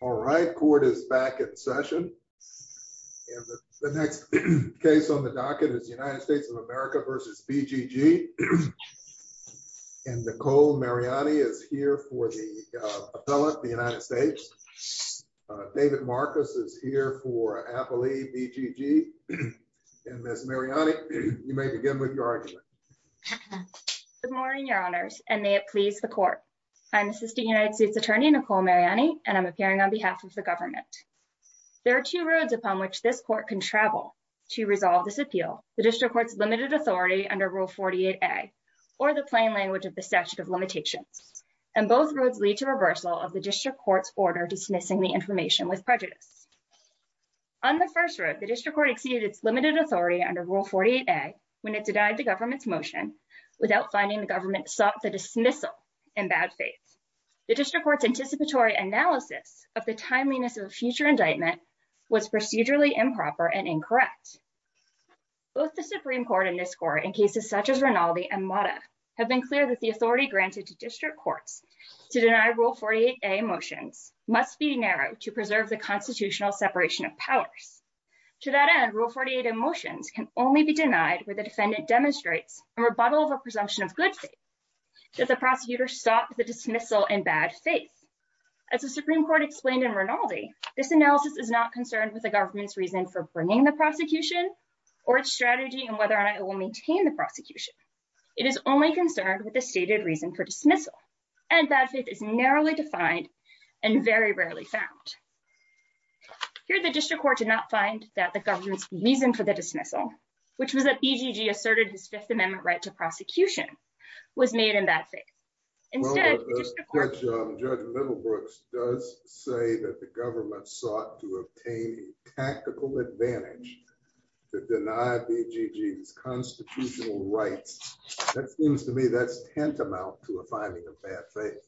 All right, court is back in session. The next case on the docket is the United States of America v. B.G.G. And Nicole Mariani is here for the appellate, the United States. David Marcus is here for appellee B.G.G. And Miss Mariani, you may begin with your argument. Good morning, your honors, and may it please the court. I'm Assistant United States Attorney Nicole Mariani, and I'm appearing on behalf of the government. There are two roads upon which this court can travel to resolve this appeal. The district court's limited authority under Rule 48-A, or the plain language of the statute of limitations. And both roads lead to reversal of the district court's order dismissing the information with prejudice. On the first road, the district court exceeded its limited authority under Rule 48-A when it denied the government's motion without finding the government sought the dismissal in bad faith. The district court's anticipatory analysis of the timeliness of a future indictment was procedurally improper and incorrect. Both the Supreme Court and this court in cases such as Rinaldi and Mata have been clear that the authority granted to district courts to deny Rule 48-A motions must be narrowed to preserve the constitutional separation of powers. To that end, Rule 48-A motions can only be denied where the defendant demonstrates a rebuttal of a presumption of good faith. Does the prosecutor sought the dismissal in bad faith? As the Supreme Court explained in Rinaldi, this analysis is not concerned with the government's reason for bringing the prosecution or its strategy and whether or not it will maintain the prosecution. It is only concerned with the stated reason for dismissal. And bad faith is narrowly defined and very rarely found. Here, the district court did not find that the government's reason for the dismissal, which was that EGG asserted his Fifth Amendment right to prosecution, was made in bad faith. Instead, the district court... Judge Littlebrooks does say that the government sought to obtain a tactical advantage to deny EGG's constitutional rights. That seems to me that's tantamount to a finding of bad faith.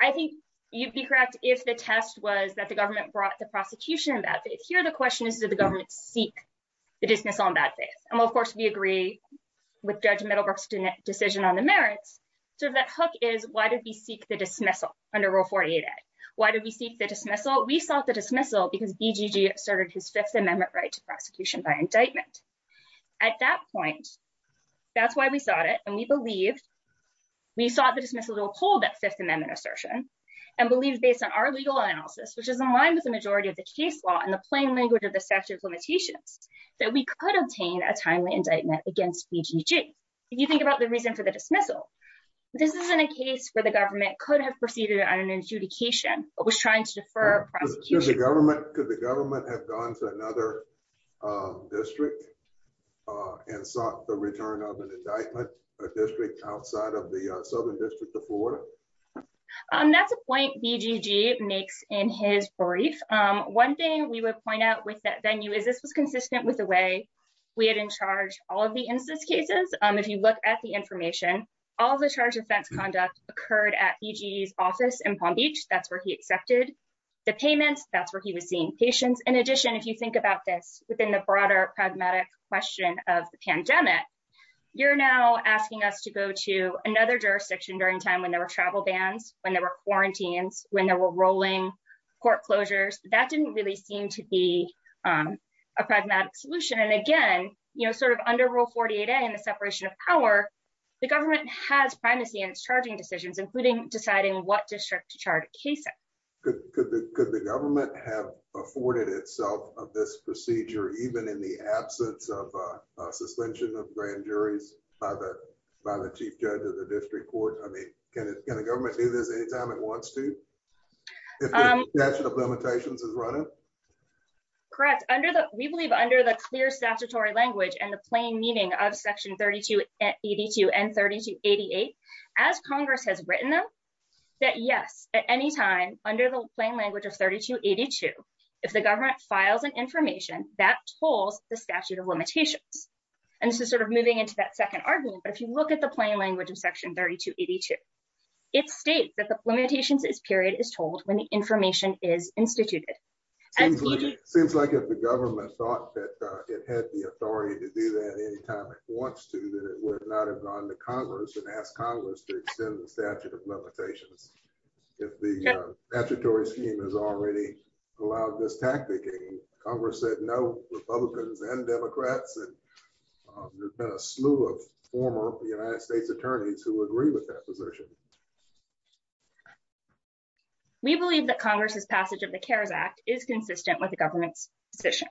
I think you'd be correct if the test was that the government brought the prosecution in bad faith. Here, the question is, did the government seek the dismissal in bad faith? And of course, we agree with Judge Littlebrooks' decision on the merits. So that hook is, why did we seek the dismissal under Rule 48a? Why did we seek the dismissal? We sought the dismissal because EGG asserted his Fifth Amendment right to prosecution by indictment. At that point, that's why we sought it. And we believed, we sought the dismissal to uphold that Fifth Amendment assertion and believe based on our legal analysis, which is in line with the majority of the case law and the plain language of the statute of limitations, that we could obtain a timely indictment against EGG. If you think about the reason for the dismissal, this isn't a case where the government could have proceeded on an adjudication, but was trying to defer prosecution. Could the government have gone to another district and sought the return of an indictment, a district outside of the Southern District of Florida? That's a point BGG makes in his brief. One thing we would point out with that venue is this was consistent with the way we had in charge all of the instance cases. If you look at the information, all the charge of offense conduct occurred at EGG's office in Palm Beach. That's where he accepted the payments. That's where he was seeing patients. In addition, if you think about this within the broader pragmatic question of the pandemic, you're now asking us to go to another jurisdiction during time when there were travel bans, when there were rolling court closures, that didn't really seem to be a pragmatic solution. And again, under Rule 48A and the separation of power, the government has primacy in its charging decisions, including deciding what district to charge a case at. Could the government have afforded itself of this procedure, even in the absence of a suspension of grand juries by the chief judge of the district court? I mean, can the government do this anytime it wants to? If the statute of limitations is running? Correct. Under the, we believe under the clear statutory language and the plain meaning of section 3282 and 3288, as Congress has written them, that yes, at any time under the plain language of 3282, if the government files an information that tolls the statute of limitations, and this is sort of moving into that second argument. But if you look at the plain language of section 3282, it states that the limitations period is told when the information is instituted. Seems like if the government thought that it had the authority to do that anytime it wants to, that it would not have gone to Congress and asked Congress to extend the statute of limitations. If the statutory scheme has already allowed this tactic and Congress said no, Republicans and Democrats, and there's been a slew of former United States attorneys who agree with that position. We believe that Congress's passage of the CARES Act is consistent with the government's position.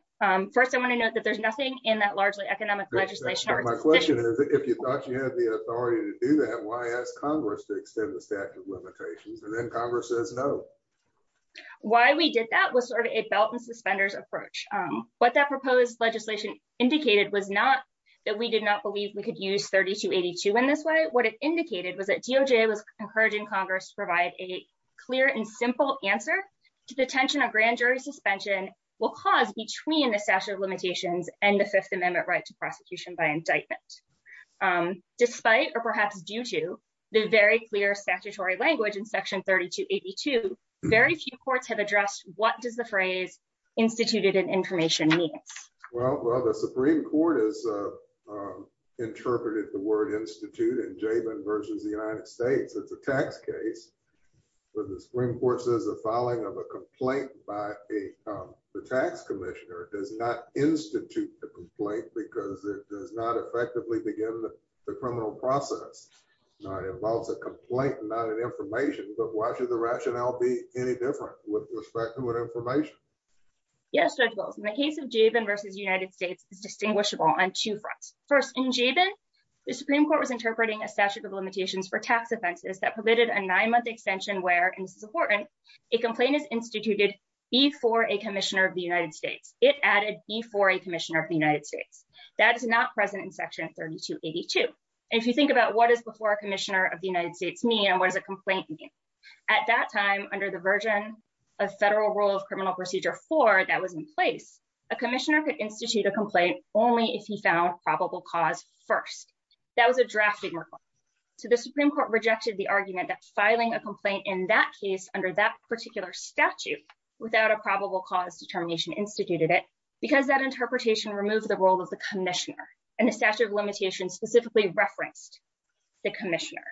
First, I want to note that there's nothing in that largely economic legislation. My question is, if you thought you had the authority to do that, why ask Congress to extend the statute of limitations? And then Congress says no. Why we did that was sort of a belt and suspenders approach. What that proposed legislation indicated was not that we did not believe we could use 3282 in this way. What it indicated was that DOJ was encouraging Congress to provide a clear and simple answer to the tension of grand jury suspension will cause between the statute of limitations and the fifth amendment right to prosecution by indictment, despite, or perhaps due to the very clear statutory language in section 3282, very few courts have addressed. What does the phrase instituted in information mean? Well, well, the Supreme court is, uh, um, interpreted the word Institute and JVN versus the United States. It's a tax case. But the Supreme court says the filing of a complaint by a, um, the tax commissioner does not institute the complaint because it does not effectively begin the criminal process involves a complaint, not an information, but why should the rationale be any different with respect to what information? Yes. In the case of JVN versus United States is distinguishable on two fronts. First in JVN, the Supreme court was interpreting a statute of limitations for tax offenses that permitted a nine month extension, where, and this is important, a complaint is instituted before a commissioner of the United States. It added before a commissioner of the United States that is not present in section 3282. If you think about what is before a commissioner of the United States me and what does a complaint mean? At that time under the version of federal rule of criminal procedure four that was in place, a commissioner could institute a complaint only if he found probable cause first. That was a draft. So the Supreme court rejected the argument that filing a complaint in that case under that particular statute without a probable cause determination instituted it because that interpretation removed the role of the commissioner and the statute of limitations specifically referenced the commissioner.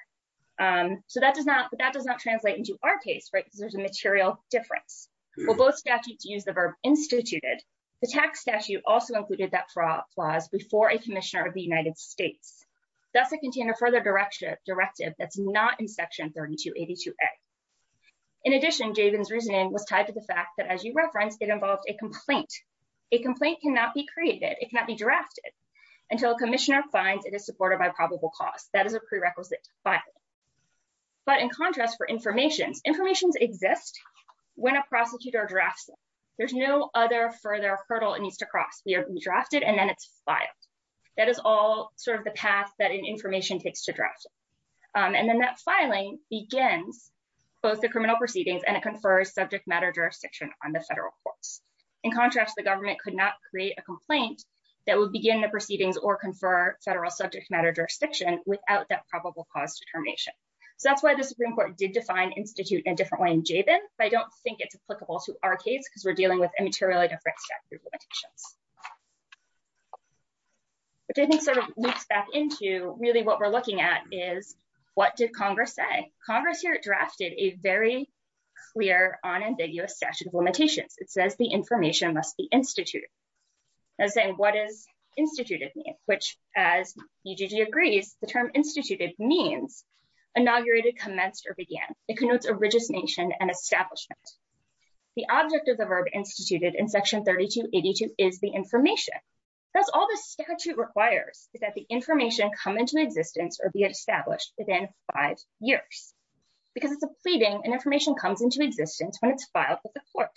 Um, so that does not, that does not translate into our case, right? Because there's a material difference. Well, both statutes use the verb instituted. The tax statute also included that for applause before a commissioner of the United States, that's a container further direction directive. That's not in section 3282. In addition, JVN's reasoning was tied to the fact that as you referenced, it involved a complaint, a complaint cannot be created. It cannot be drafted until a commissioner finds it is supported by probable cause. That is a prerequisite. But in contrast for information's information's exist, when a prosecutor drafts, there's no other further hurdle it needs to cross. We are drafted and then it's filed. That is all sort of the path that an information takes to draft. Um, and then that filing begins both the criminal proceedings and it confers subject matter jurisdiction on the federal courts. In contrast, the government could not create a complaint that would begin the proceedings or confer federal subject matter jurisdiction without that probable cause determination. So that's why the Supreme court did define institute in a different way in JVN, but I don't think it's applicable to our case because we're dealing with immateriality of statute of limitations. But I think sort of loops back into really what we're looking at is what did Congress say? Congress here drafted a very clear on ambiguous statute of limitations. It says the information must be instituted. As saying, what is instituted me, which as EGG agrees, the term instituted means inaugurated, commenced, or began. It connotes a rigid nation and establishment. The object of the verb instituted in section 32 82 is the information. That's all the statute requires is that the information come into existence or be established within five years because it's a pleading and information comes into existence when it's filed with the court,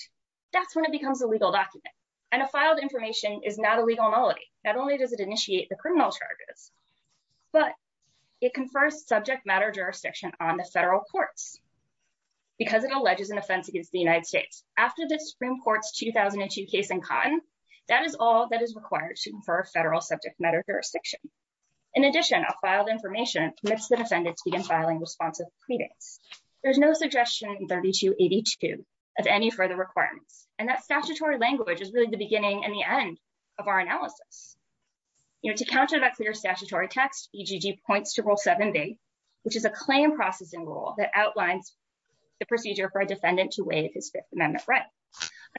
that's when it becomes a legal document and a filed information is not a legal nullity, not only does it initiate the criminal charges, but it can first subject matter jurisdiction on the federal courts because it alleges an offense against the United States. After the Supreme court's 2002 case in cotton, that is all that is required to confer federal subject matter jurisdiction. In addition, a filed information commits the defendant to be in filing responsive. There's no suggestion in 32 82 of any further requirements. And that statutory language is really the beginning and the end of our analysis. You know, to counter that clear statutory text, EGG points to rule seven B, which is a claim processing rule that outlines the procedure for a defendant to waive his fifth amendment right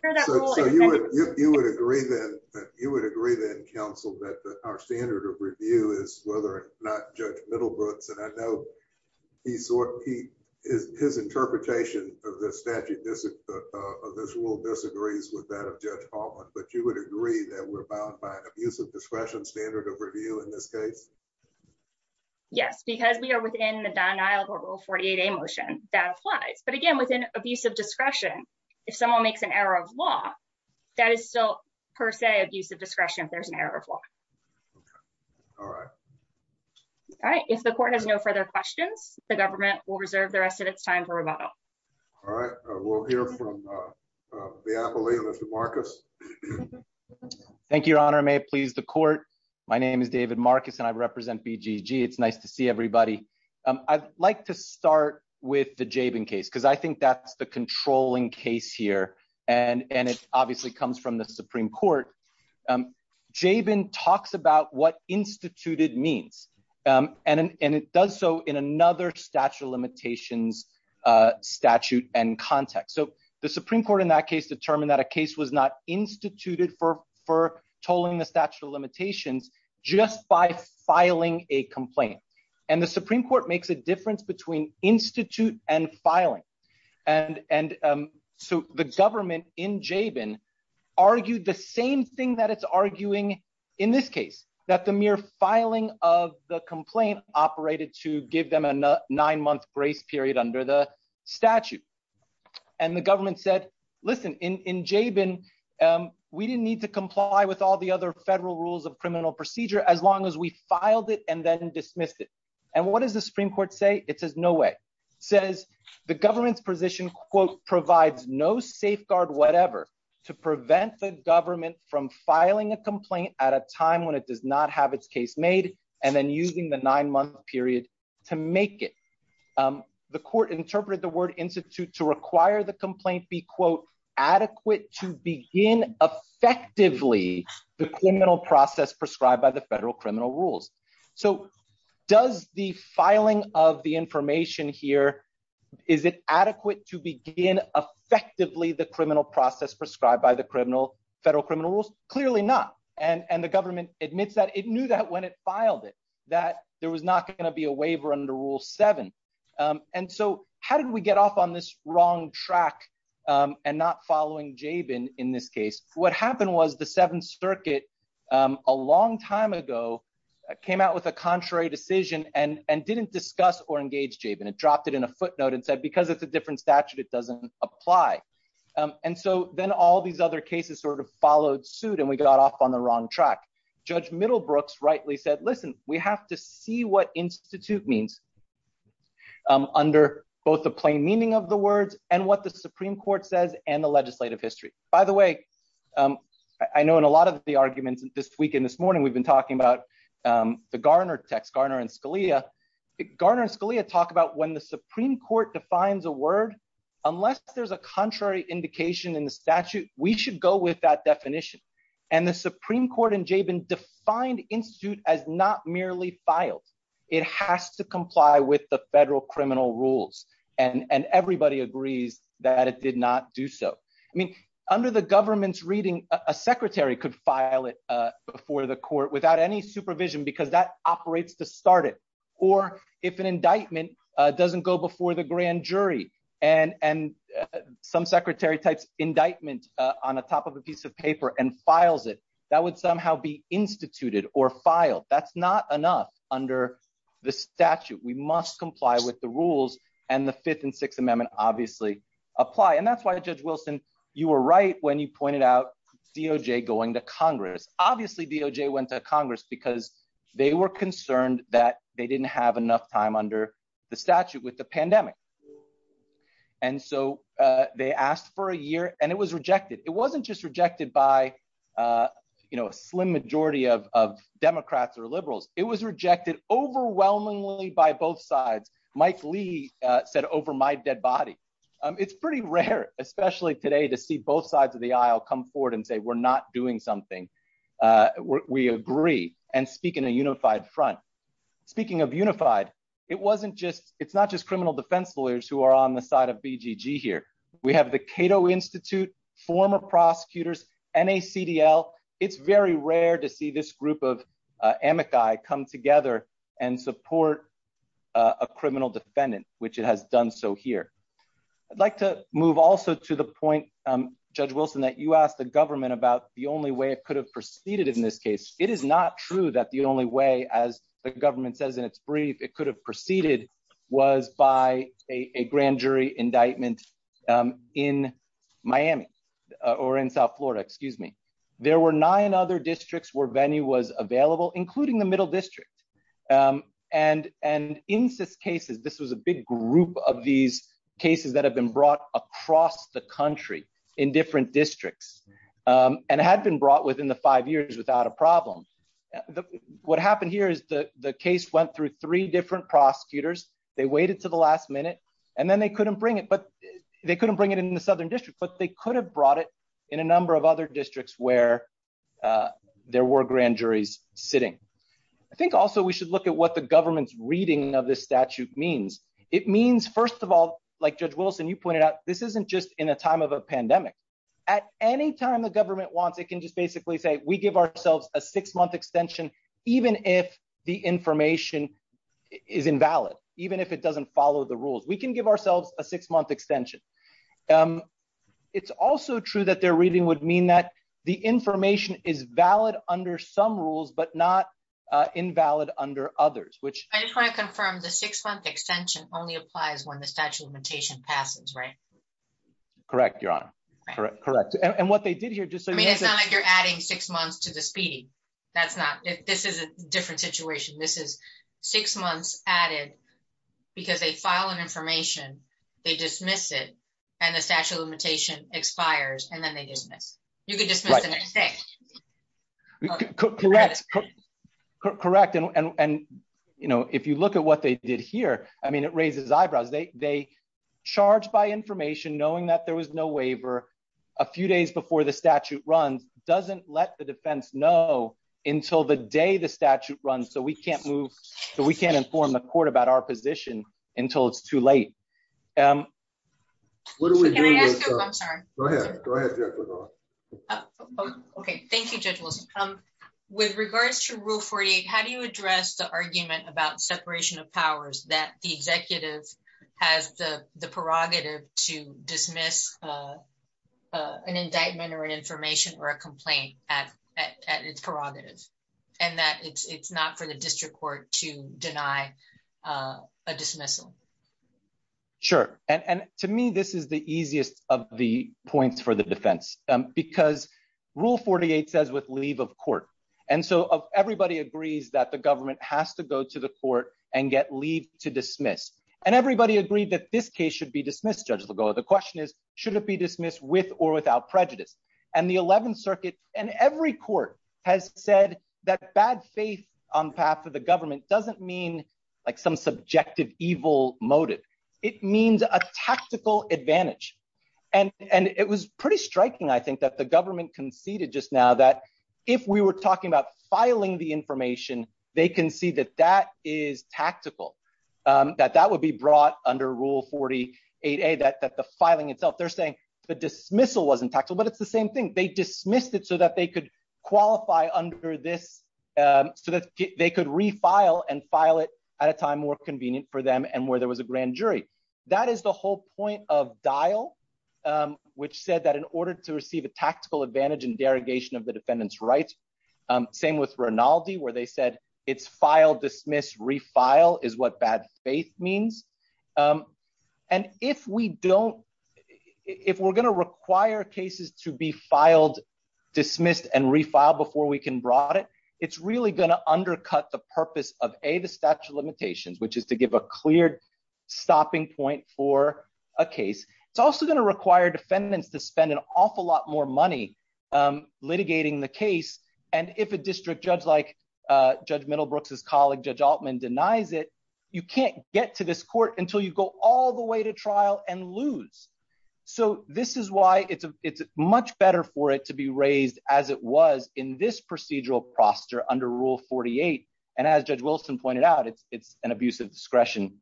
under that rule, you would agree that you would agree that counsel that our standard of review is whether or not judge middle roots, and I know he's sort of, he is his interpretation of the statute of this rule disagrees with that of judge Hoffman, but you would agree that we're bound by an abusive discretion standard of review in this case. Yes, because we are within the denial of a rule 48 a motion that applies, but again, within abusive discretion, if someone makes an error of law, that is still per se abusive discretion, if there's an error of law, all right. All right. If the court has no further questions, the government will reserve the rest of its time for rebuttal. All right. We'll hear from the appellate. Thank you, your honor. May it please the court. My name is David Marcus and I represent BGG. It's nice to see everybody. Um, I'd like to start with the Jaben case. Cause I think that's the controlling case here. And, and it obviously comes from the Supreme court. Um, Jaben talks about what instituted means. Um, and, and it does so in another statute of limitations, uh, statute and context. So the Supreme court in that case determined that a case was not instituted for, for tolling the statute of limitations just by filing a complaint. And the Supreme court makes a difference between institute and filing. And, and, um, so the government in Jaben argued the same thing that it's the complaint operated to give them a nine month grace period under the statute. And the government said, listen in, in Jaben, um, we didn't need to comply with all the other federal rules of criminal procedure, as long as we filed it and then dismissed it. And what does the Supreme court say? It says no way says the government's position quote provides no safeguard, whatever to prevent the government from filing a complaint at a time when it uses the nine month period to make it. Um, the court interpreted the word institute to require the complaint be quote adequate to begin effectively the criminal process prescribed by the federal criminal rules. So does the filing of the information here, is it adequate to begin effectively the criminal process prescribed by the criminal federal criminal rules, clearly not. And, and the government admits that it knew that when it filed it, that there was not going to be a waiver under rule seven. Um, and so how did we get off on this wrong track? Um, and not following Jaben in this case, what happened was the seventh circuit, um, a long time ago came out with a contrary decision and, and didn't discuss or engage Jaben. It dropped it in a footnote and said, because it's a different statute, it doesn't apply. Um, and so then all these other cases sort of followed suit and we got off on the wrong track. Judge Middlebrooks rightly said, listen, we have to see what institute means, um, under both the plain meaning of the words and what the Supreme court says and the legislative history. By the way, um, I know in a lot of the arguments this weekend, this morning, we've been talking about, um, the Garner text, Garner and Scalia. Garner and Scalia talk about when the Supreme court defines a word, unless there's a contrary indication in the statute, we should go with that definition. And the Supreme court in Jaben defined institute as not merely filed. It has to comply with the federal criminal rules and, and everybody agrees that it did not do so. I mean, under the government's reading, a secretary could file it, uh, before the court without any supervision, because that operates to start it. Or if an indictment, uh, doesn't go before the grand jury and, and some indictment, uh, on a top of a piece of paper and files it, that would somehow be instituted or filed. That's not enough under the statute. We must comply with the rules and the fifth and sixth amendment obviously apply. And that's why judge Wilson, you were right when you pointed out DOJ going to Congress, obviously DOJ went to Congress because they were concerned that they didn't have enough time under the statute with the pandemic. And so, uh, they asked for a year and it was rejected. It wasn't just rejected by, uh, you know, a slim majority of, of Democrats or liberals, it was rejected overwhelmingly by both sides. Mike Lee said over my dead body. Um, it's pretty rare, especially today to see both sides of the aisle come forward and say, we're not doing something. Uh, we agree and speak in a unified front. Speaking of unified, it wasn't just, it's not just criminal defense lawyers who are on the side of BGG here. We have the Cato Institute, former prosecutors, NACDL. It's very rare to see this group of, uh, amici come together and support. Uh, a criminal defendant, which it has done. So here I'd like to move also to the point, um, judge Wilson, that you asked the government about the only way it could have proceeded in this case. It is not true that the only way, as the government says in its brief, it could have proceeded was by a grand jury indictment, um, in Miami or in South Florida, excuse me, there were nine other districts where venue was available, including the middle district. Um, and, and in this case, this was a big group of these cases that have been brought across the country in different districts, um, and it had been brought within the five years without a problem. The, what happened here is the, the case went through three different prosecutors, they waited to the last minute and then they couldn't bring it. But they couldn't bring it in the Southern district, but they could have brought it in a number of other districts where, uh, there were grand juries sitting, I think also we should look at what the government's reading of this statute means. It means, first of all, like judge Wilson, you pointed out, this isn't just in a time of a pandemic. At any time the government wants, it can just basically say, we give ourselves a six month extension, even if the information is invalid, even if it doesn't follow the rules, we can give ourselves a six month extension. Um, it's also true that they're reading would mean that the information is valid under some rules, but not, uh, invalid under others, which I just want to confirm the six month extension only applies when the statute of limitation passes. Right. Correct. Your honor. Correct. Correct. And what they did here, just so you know, it's not like you're adding six months to the speeding. That's not, this is a different situation. This is six months added because they file an information, they dismiss it. And the statute of limitation expires and then they dismiss, you can dismiss the next day. Correct. Correct. And, and, and, you know, if you look at what they did here, I mean, it raises eyebrows, they, they charge by information, knowing that there was no doesn't let the defense know until the day the statute runs. So we can't move, so we can't inform the court about our position until it's too late. Um, what do we do? I'm sorry. Okay. Thank you. Judge Wilson. Um, with regards to rule 48, how do you address the argument about separation of powers that the executive has the prerogative to dismiss, uh, uh, an information or a complaint at, at, at its prerogatives and that it's, it's not for the district court to deny, uh, a dismissal. Sure. And, and to me, this is the easiest of the points for the defense, um, because rule 48 says with leave of court. And so everybody agrees that the government has to go to the court and get leave to dismiss. And everybody agreed that this case should be dismissed. Judges will go. The question is, should it be dismissed with or without prejudice? And the 11th circuit and every court has said that bad faith on path of the government doesn't mean like some subjective evil motive, it means a tactical advantage and, and it was pretty striking. I think that the government conceded just now that if we were talking about filing the information, they can see that that is tactical, um, that that would be brought under rule 48 a that, that the filing itself, they're saying the same thing, they dismissed it so that they could qualify under this, um, so that they could refile and file it at a time more convenient for them. And where there was a grand jury, that is the whole point of dial, um, which said that in order to receive a tactical advantage and derogation of the defendant's rights, um, same with Rinaldi, where they said it's filed, dismiss, refile is what bad faith means. Um, and if we don't, if we're going to require cases to be filed, dismissed and refiled before we can brought it, it's really going to undercut the purpose of a, the statute of limitations, which is to give a cleared stopping point for a case. It's also going to require defendants to spend an awful lot more money. Um, litigating the case. And if a district judge like, uh, judge middle Brooks's colleague, judge Altman denies it, you can't get to this court until you go all the way to trial and lose. So this is why it's a, it's much better for it to be raised as it was in this procedural proster under rule 48. And as judge Wilson pointed out, it's, it's an abuse of discretion.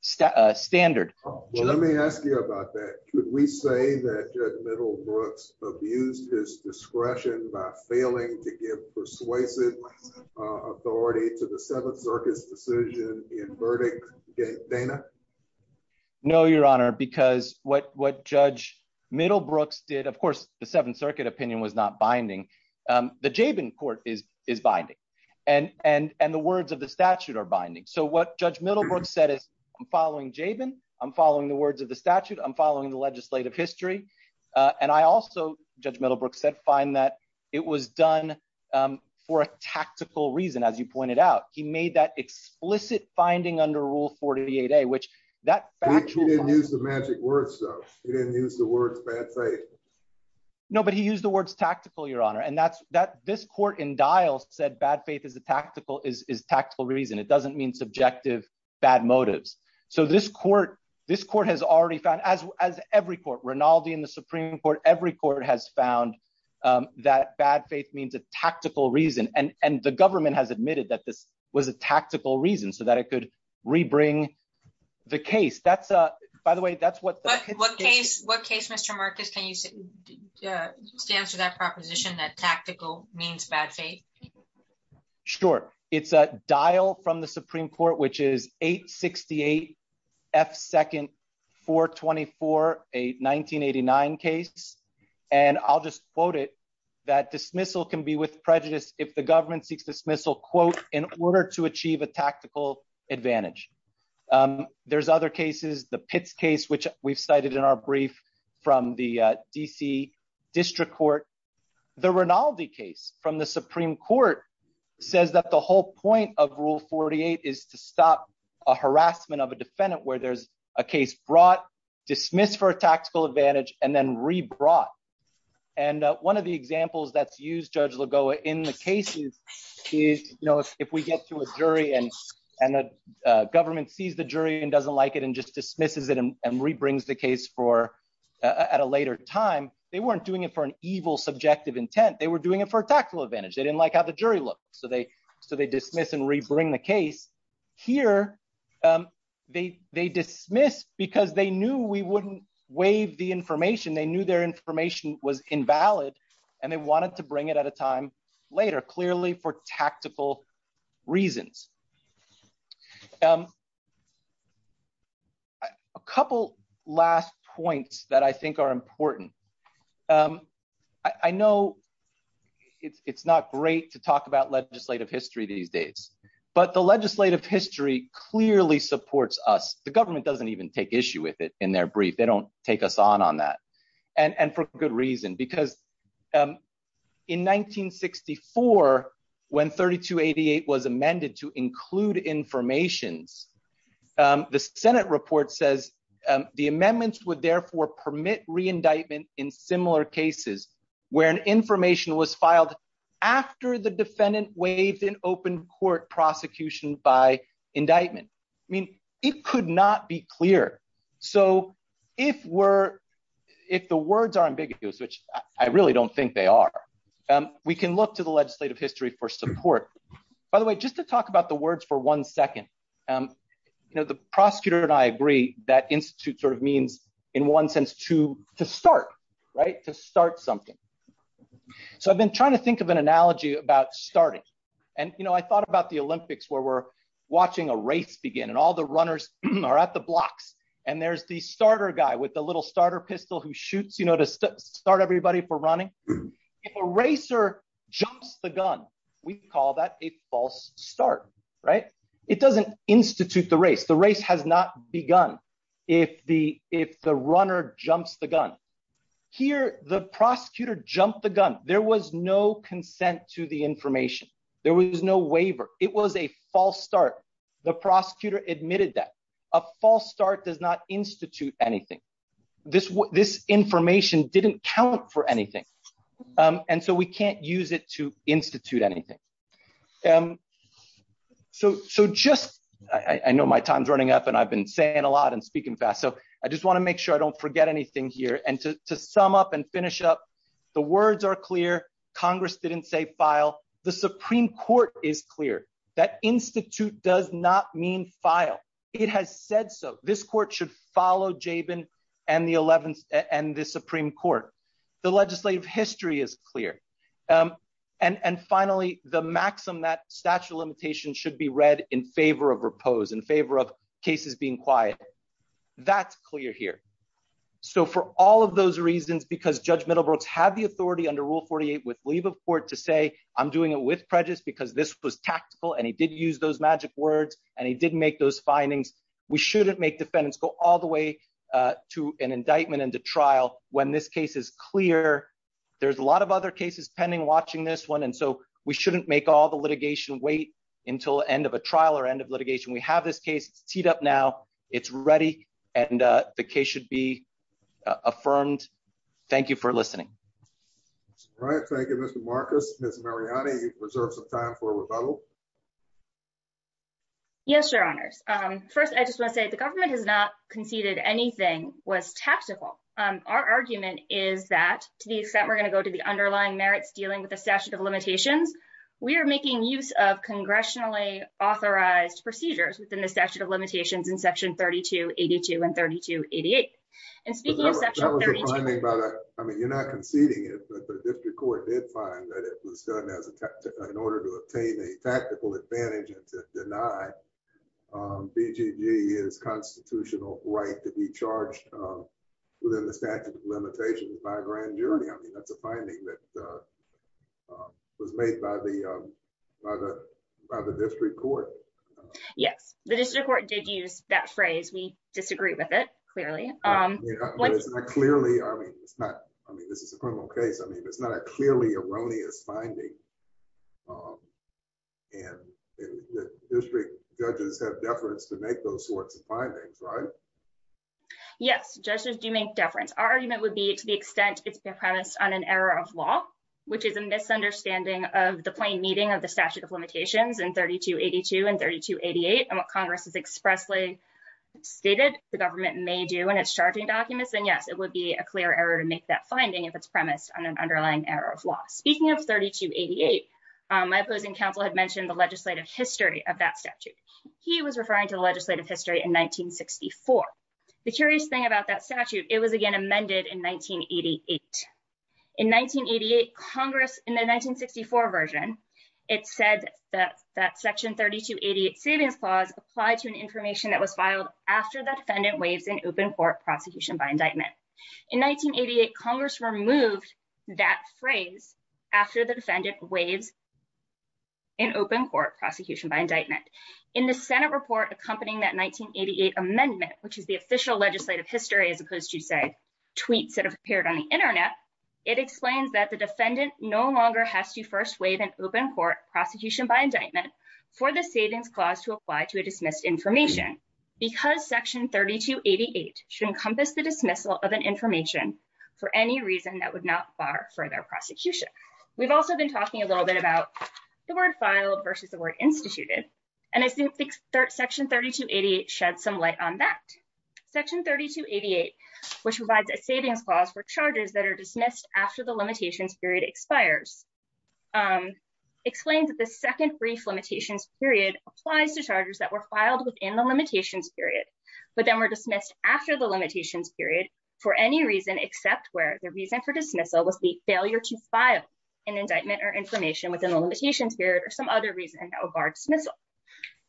Stat standard. Let me ask you about that. Could we say that judge middle Brooks abused his discretion by failing to seven circus decision in verdict Dana? No, your honor. Because what, what judge middle Brooks did, of course, the seventh circuit opinion was not binding. Um, the Jaben court is, is binding and, and, and the words of the statute are binding. So what judge middle Brooks said is I'm following Jaben. I'm following the words of the statute. I'm following the legislative history. Uh, and I also judge middle Brooks said fine that it was done. Um, for a tactical reason, as you pointed out, he made that explicit finding under rule 48 a, which that use the magic words. So he didn't use the words bad faith. No, but he used the words tactical, your honor. And that's that this court in dials said bad faith is a tactical is, is tactical reason it doesn't mean subjective. Bad motives. So this court, this court has already found as, as every court Rinaldi in the Supreme court, every court has found, um, that bad faith means a tactical reason. And, and the government has admitted that this was a tactical reason so that it could rebring the case. That's a, by the way, that's what, what case, what case, Mr. Marcus, can you say, uh, stands for that proposition that tactical means bad faith. Sure. It's a dial from the Supreme court, which is eight 68. F second four 24, eight, 1989 cases. And I'll just quote it that dismissal can be with prejudice. If the government seeks dismissal quote, in order to achieve a tactical advantage. Um, there's other cases, the pits case, which we've cited in our brief from the DC district court. The Rinaldi case from the Supreme court says that the whole point of rule 48 is to stop a harassment of a defendant where there's a case brought dismiss for a tactical advantage and then re brought. And one of the examples that's used judge Lagoa in the cases is, you know, if we get to a jury and, and the government sees the jury and doesn't like it and just dismisses it and rebrings the case for, uh, at a later time, they weren't doing it for an evil subjective intent. They were doing it for a tactical advantage. They didn't like how the jury looked. So they, so they dismiss and rebring the case here. Um, they, they dismiss because they knew we wouldn't waive the information. They knew their information was invalid and they wanted to bring it at a time later, clearly for tactical reasons. Um, a couple last points that I think are important. Um, I know it's, it's not great to talk about legislative history these days, but the legislative history clearly supports us. The government doesn't even take issue with it in their brief. They don't take us on on that. And, and for good reason, because, um, in 1964, when 32 88 was amended to include informations, um, the Senate report says, um, the amendments would therefore permit reindictment in similar cases where an information was prosecuted by indictment. I mean, it could not be clear. So if we're, if the words are ambiguous, which I really don't think they are. Um, we can look to the legislative history for support, by the way, just to talk about the words for one second. Um, you know, the prosecutor and I agree that institute sort of means in one sense to, to start, right. To start something. So I've been trying to think of an analogy about starting. And, you know, I thought about the Olympics where we're watching a race begin and all the runners are at the blocks and there's the starter guy with the little starter pistol who shoots, you know, to start everybody for running. If a racer jumps the gun, we call that a false start, right? It doesn't institute the race. The race has not begun. If the, if the runner jumps the gun here, the prosecutor jumped the gun. There was no consent to the information. There was no waiver. It was a false start. The prosecutor admitted that a false start does not institute anything. This, this information didn't count for anything. Um, and so we can't use it to institute anything. Um, so, so just, I know my time's running up and I've been saying a lot and speaking fast. So I just want to make sure I don't forget anything here. And to sum up and finish up, the words are clear. Congress didn't say file. The Supreme court is clear that institute does not mean file. It has said, so this court should follow Jabin and the 11th and the Supreme court. The legislative history is clear. Um, and, and finally the maxim, that statute of limitations should be read in favor of repose in favor of cases being quiet, that's clear here. So for all of those reasons, because judge Middlebrooks had the authority under rule 48 with leave of court to say, I'm doing it with prejudice because this was tactical and he did use those magic words and he didn't make those findings. We shouldn't make defendants go all the way to an indictment and to trial when this case is clear. There's a lot of other cases pending watching this one. And so we shouldn't make all the litigation wait until the end of a trial or end of litigation. We have this case teed up now it's ready. And, uh, the case should be affirmed. Thank you for listening. All right. Thank you, Mr. Marcus, Ms. Mariani, you've reserved some time for rebuttal. Yes, your honors. Um, first, I just want to say the government has not conceded anything was tactical. Um, our argument is that to the extent we're going to go to the underlying merits dealing with the statute of limitations, we are making use of congressionally authorized procedures within the statute of limitations in section 32 82 and 32 88 and speaking of section 32, I mean, you're not conceding it, but the district court did find that it was done as a, in order to obtain a tactical advantage and to deny, um, BGG is constitutional right to be charged, um, within the statute of limitations by grand jury. I mean, that's a finding that, uh, um, was made by the, um, by the, by the district court, the district court did use that phrase. We disagree with it clearly. Um, I mean, it's not, I mean, this is a criminal case. I mean, it's not a clearly erroneous finding. Um, and the district judges have deference to make those sorts of findings, right? Yes. Judges do make deference. Our argument would be to the extent it's been premised on an error of law, which is a misunderstanding of the plain meeting of the statute of limitations in 32 82 and 32 88 and what Congress has expressly stated the government may do. When it's charging documents, then yes, it would be a clear error to make that finding if it's premised on an underlying error of law, speaking of 32 88, um, my opposing council had mentioned the legislative history of that statute. He was referring to the legislative history in 1964. The curious thing about that statute. It was again, amended in 1988 in 1988 Congress in the 1964 version. It said that that section 32 88 savings clause applied to an information that was filed after the defendant waves in open court prosecution by indictment. In 1988, Congress removed that phrase after the defendant waves in open court prosecution by indictment in the Senate report, accompanying that 1988 amendment, which is the official legislative history, as opposed to say tweets that have appeared on the internet, it explains that the defendant no longer has to first wave an open court prosecution by indictment for the savings clause to apply to a dismissed information. Because section 32 88 should encompass the dismissal of an information for any reason that would not bar for their prosecution, we've also been talking a little bit about the word filed versus the word instituted, and I think section 32 88 shed some light on that section 32 88, which provides a savings clause for charges that are dismissed after the limitations period expires. Um, explain that the second brief limitations period applies to charges that were filed within the limitations period, but then were dismissed after the limitations period for any reason, except where the reason for dismissal was the failure to file an indictment or information within the limitations period or some other reason that would bar dismissal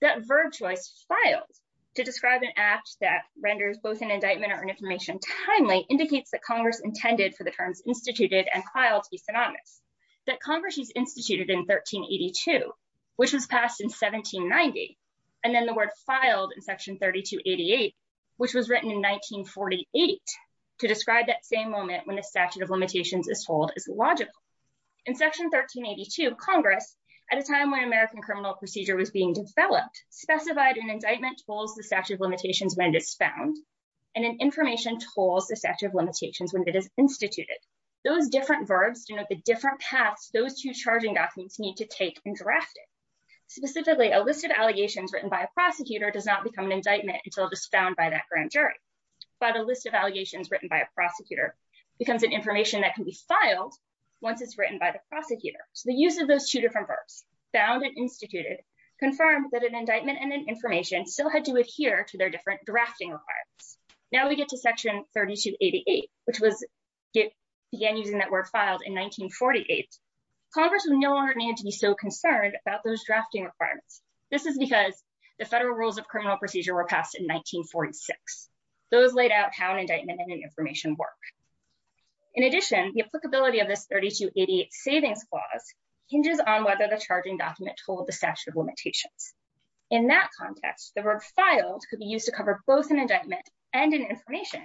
that verb choice filed to describe an act that renders both an indictment or an information timely indicates that Congress intended for the terms instituted and filed to be synonymous that Congress is instituted in 1382, which was passed in 1790. And then the word filed in section 32 88, which was written in 1948 to describe that same moment when the statute of limitations is told is logical in section 1382 Congress at a time when American criminal procedure was being developed, specified an indictment tools, the statute of limitations when it is found. And an information tools, the statute of limitations, when it is instituted, those different verbs, you know, the different paths, those two charging documents need to take and draft it. Specifically, a list of allegations written by a prosecutor does not become an indictment until it is found by that grand jury, but a list of allegations written by a prosecutor becomes an information that can be filed. Once it's written by the prosecutor. So the use of those two different verbs found and instituted confirmed that an indictment and an information still had to adhere to their different drafting requirements. Now we get to section 32 88, which was. Again, using that word filed in 1948, Congress will no longer need to be so This is because the federal rules of criminal procedure were passed in 1946. Those laid out how an indictment and an information work. In addition, the applicability of this 32 88 savings clause hinges on whether the charging document told the statute of limitations. In that context, the word filed could be used to cover both an indictment and an information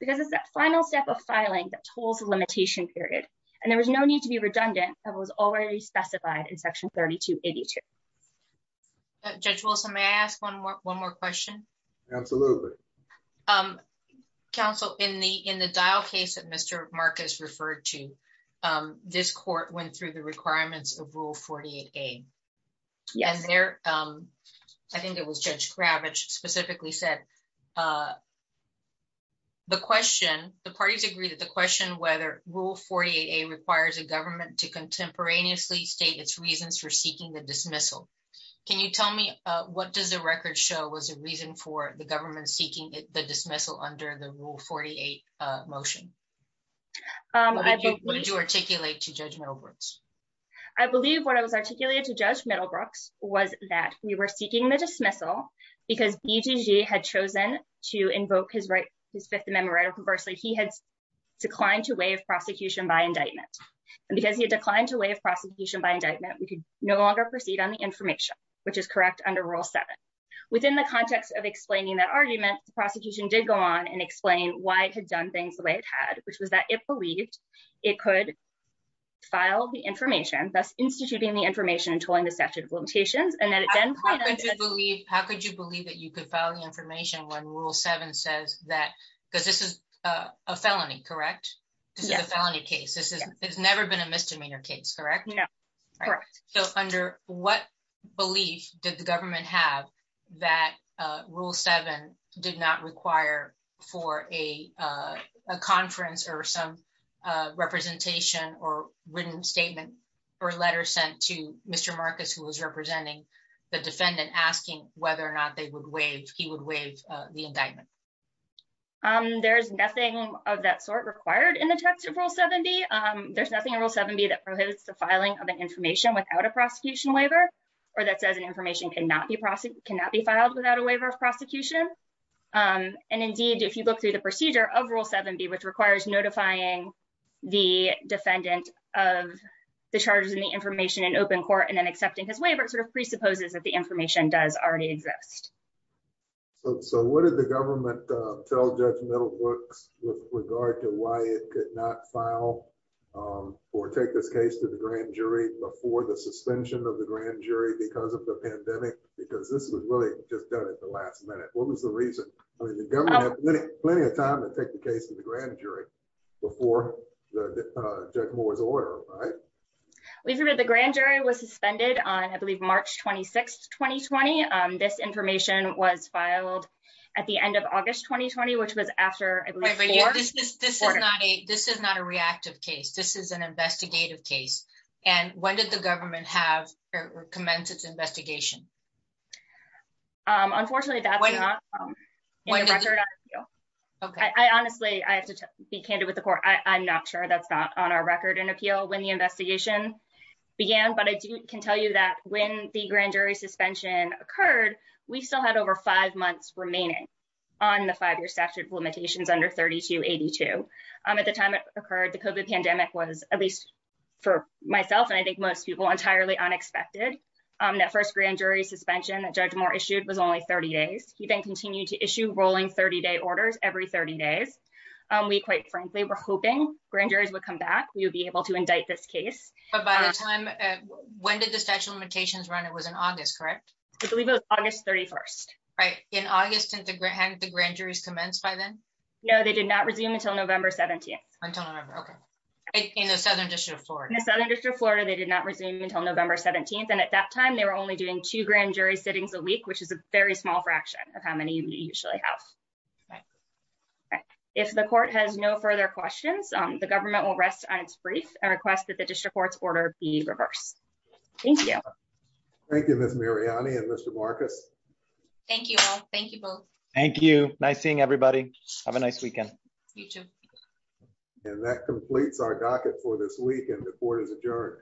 because it's that final step of filing that tools limitation period. And there was no need to be redundant. That was already specified in section 32 82. Judge Wilson, may I ask one more, one more question? Absolutely. Um, counsel in the, in the dial case that Mr. Marcus referred to, um, this court went through the requirements of rule 48 a. Yes, there. Um, I think it was judge Gravitch specifically said, uh, the question, the parties agree that the question, whether rule 48 a requires a government to Can you tell me, uh, what does the record show was a reason for the government seeking the dismissal under the rule 48, uh, motion? Um, what did you articulate to judge Middlebrooks? I believe what I was articulating to judge Middlebrooks was that we were seeking the dismissal because he had chosen to invoke his right. His fifth amendment right of conversely, he had declined to waive prosecution by indictment. And because he had declined to waive prosecution by indictment, we could no longer proceed on the information, which is correct under rule seven. Within the context of explaining that argument, the prosecution did go on and explain why it had done things the way it had, which was that it believed it could file the information, thus instituting the information and tolling the statute of limitations. And then it then how could you believe that you could file the information when rule seven says that, because this is a felony, correct? This is a felony case. This is, it's never been a misdemeanor case, correct? Correct. So under what belief did the government have that rule seven did not require for a, uh, a conference or some, uh, representation or written statement or letter sent to Mr. Marcus, who was representing the defendant asking whether or not they would waive, he would waive the indictment. Um, there's nothing of that sort required in the text of rule 70. Um, there's nothing in rule seven B that prohibits the filing of an information without a prosecution waiver, or that says an information can not be prosecuted, cannot be filed without a waiver of prosecution. Um, and indeed, if you look through the procedure of rule seven B, which requires notifying the defendant of the charges in the information in open court and then accepting his waiver, it sort of presupposes that the information does already exist. So, so what did the government, uh, tell judge Middlebrooks with regard to why it could not file, um, or take this case to the grand jury before the suspension of the grand jury, because of the pandemic, because this was really just done at the last minute. What was the reason? I mean, the government had plenty of time to take the case to the grand jury before the judge Moore's order. We've heard that the grand jury was suspended on, I believe, March 26th, 2020, um, this information was filed at the end of August, 2020, which was after this is not a, this is not a reactive case. This is an investigative case. And when did the government have commenced its investigation? Um, unfortunately that's not in the record. I honestly, I have to be candid with the court. I I'm not sure that's not on our record and appeal when the investigation began, but I can tell you that when the grand jury suspension occurred, we still had over five months remaining on the five-year statute of limitations under 3282. Um, at the time it occurred, the COVID pandemic was at least for myself. And I think most people entirely unexpected. Um, that first grand jury suspension that judge Moore issued was only 30 days. He then continued to issue rolling 30 day orders every 30 days. Um, we quite frankly, we're hoping grand jurors would come back. We would be able to indict this case. But by the time, uh, when did the statute of limitations run? It was in August, correct? I believe it was August 31st. Right. In August and the grant, the grand jury's commenced by then. No, they did not resume until November 17th. Until November. Okay. In the Southern district of Florida. In the Southern district of Florida. They did not resume until November 17th. And at that time they were only doing two grand jury sittings a week, which is a very small fraction of how many you usually have. Right. Right. If the court has no further questions, um, the government will rest on its brief and request that the district court's order be reversed. Thank you. Thank you. Miss Mariani and Mr. Marcus. Thank you all. Thank you both. Thank you. Nice seeing everybody. Have a nice weekend. You too. And that completes our docket for this week and the court is adjourned.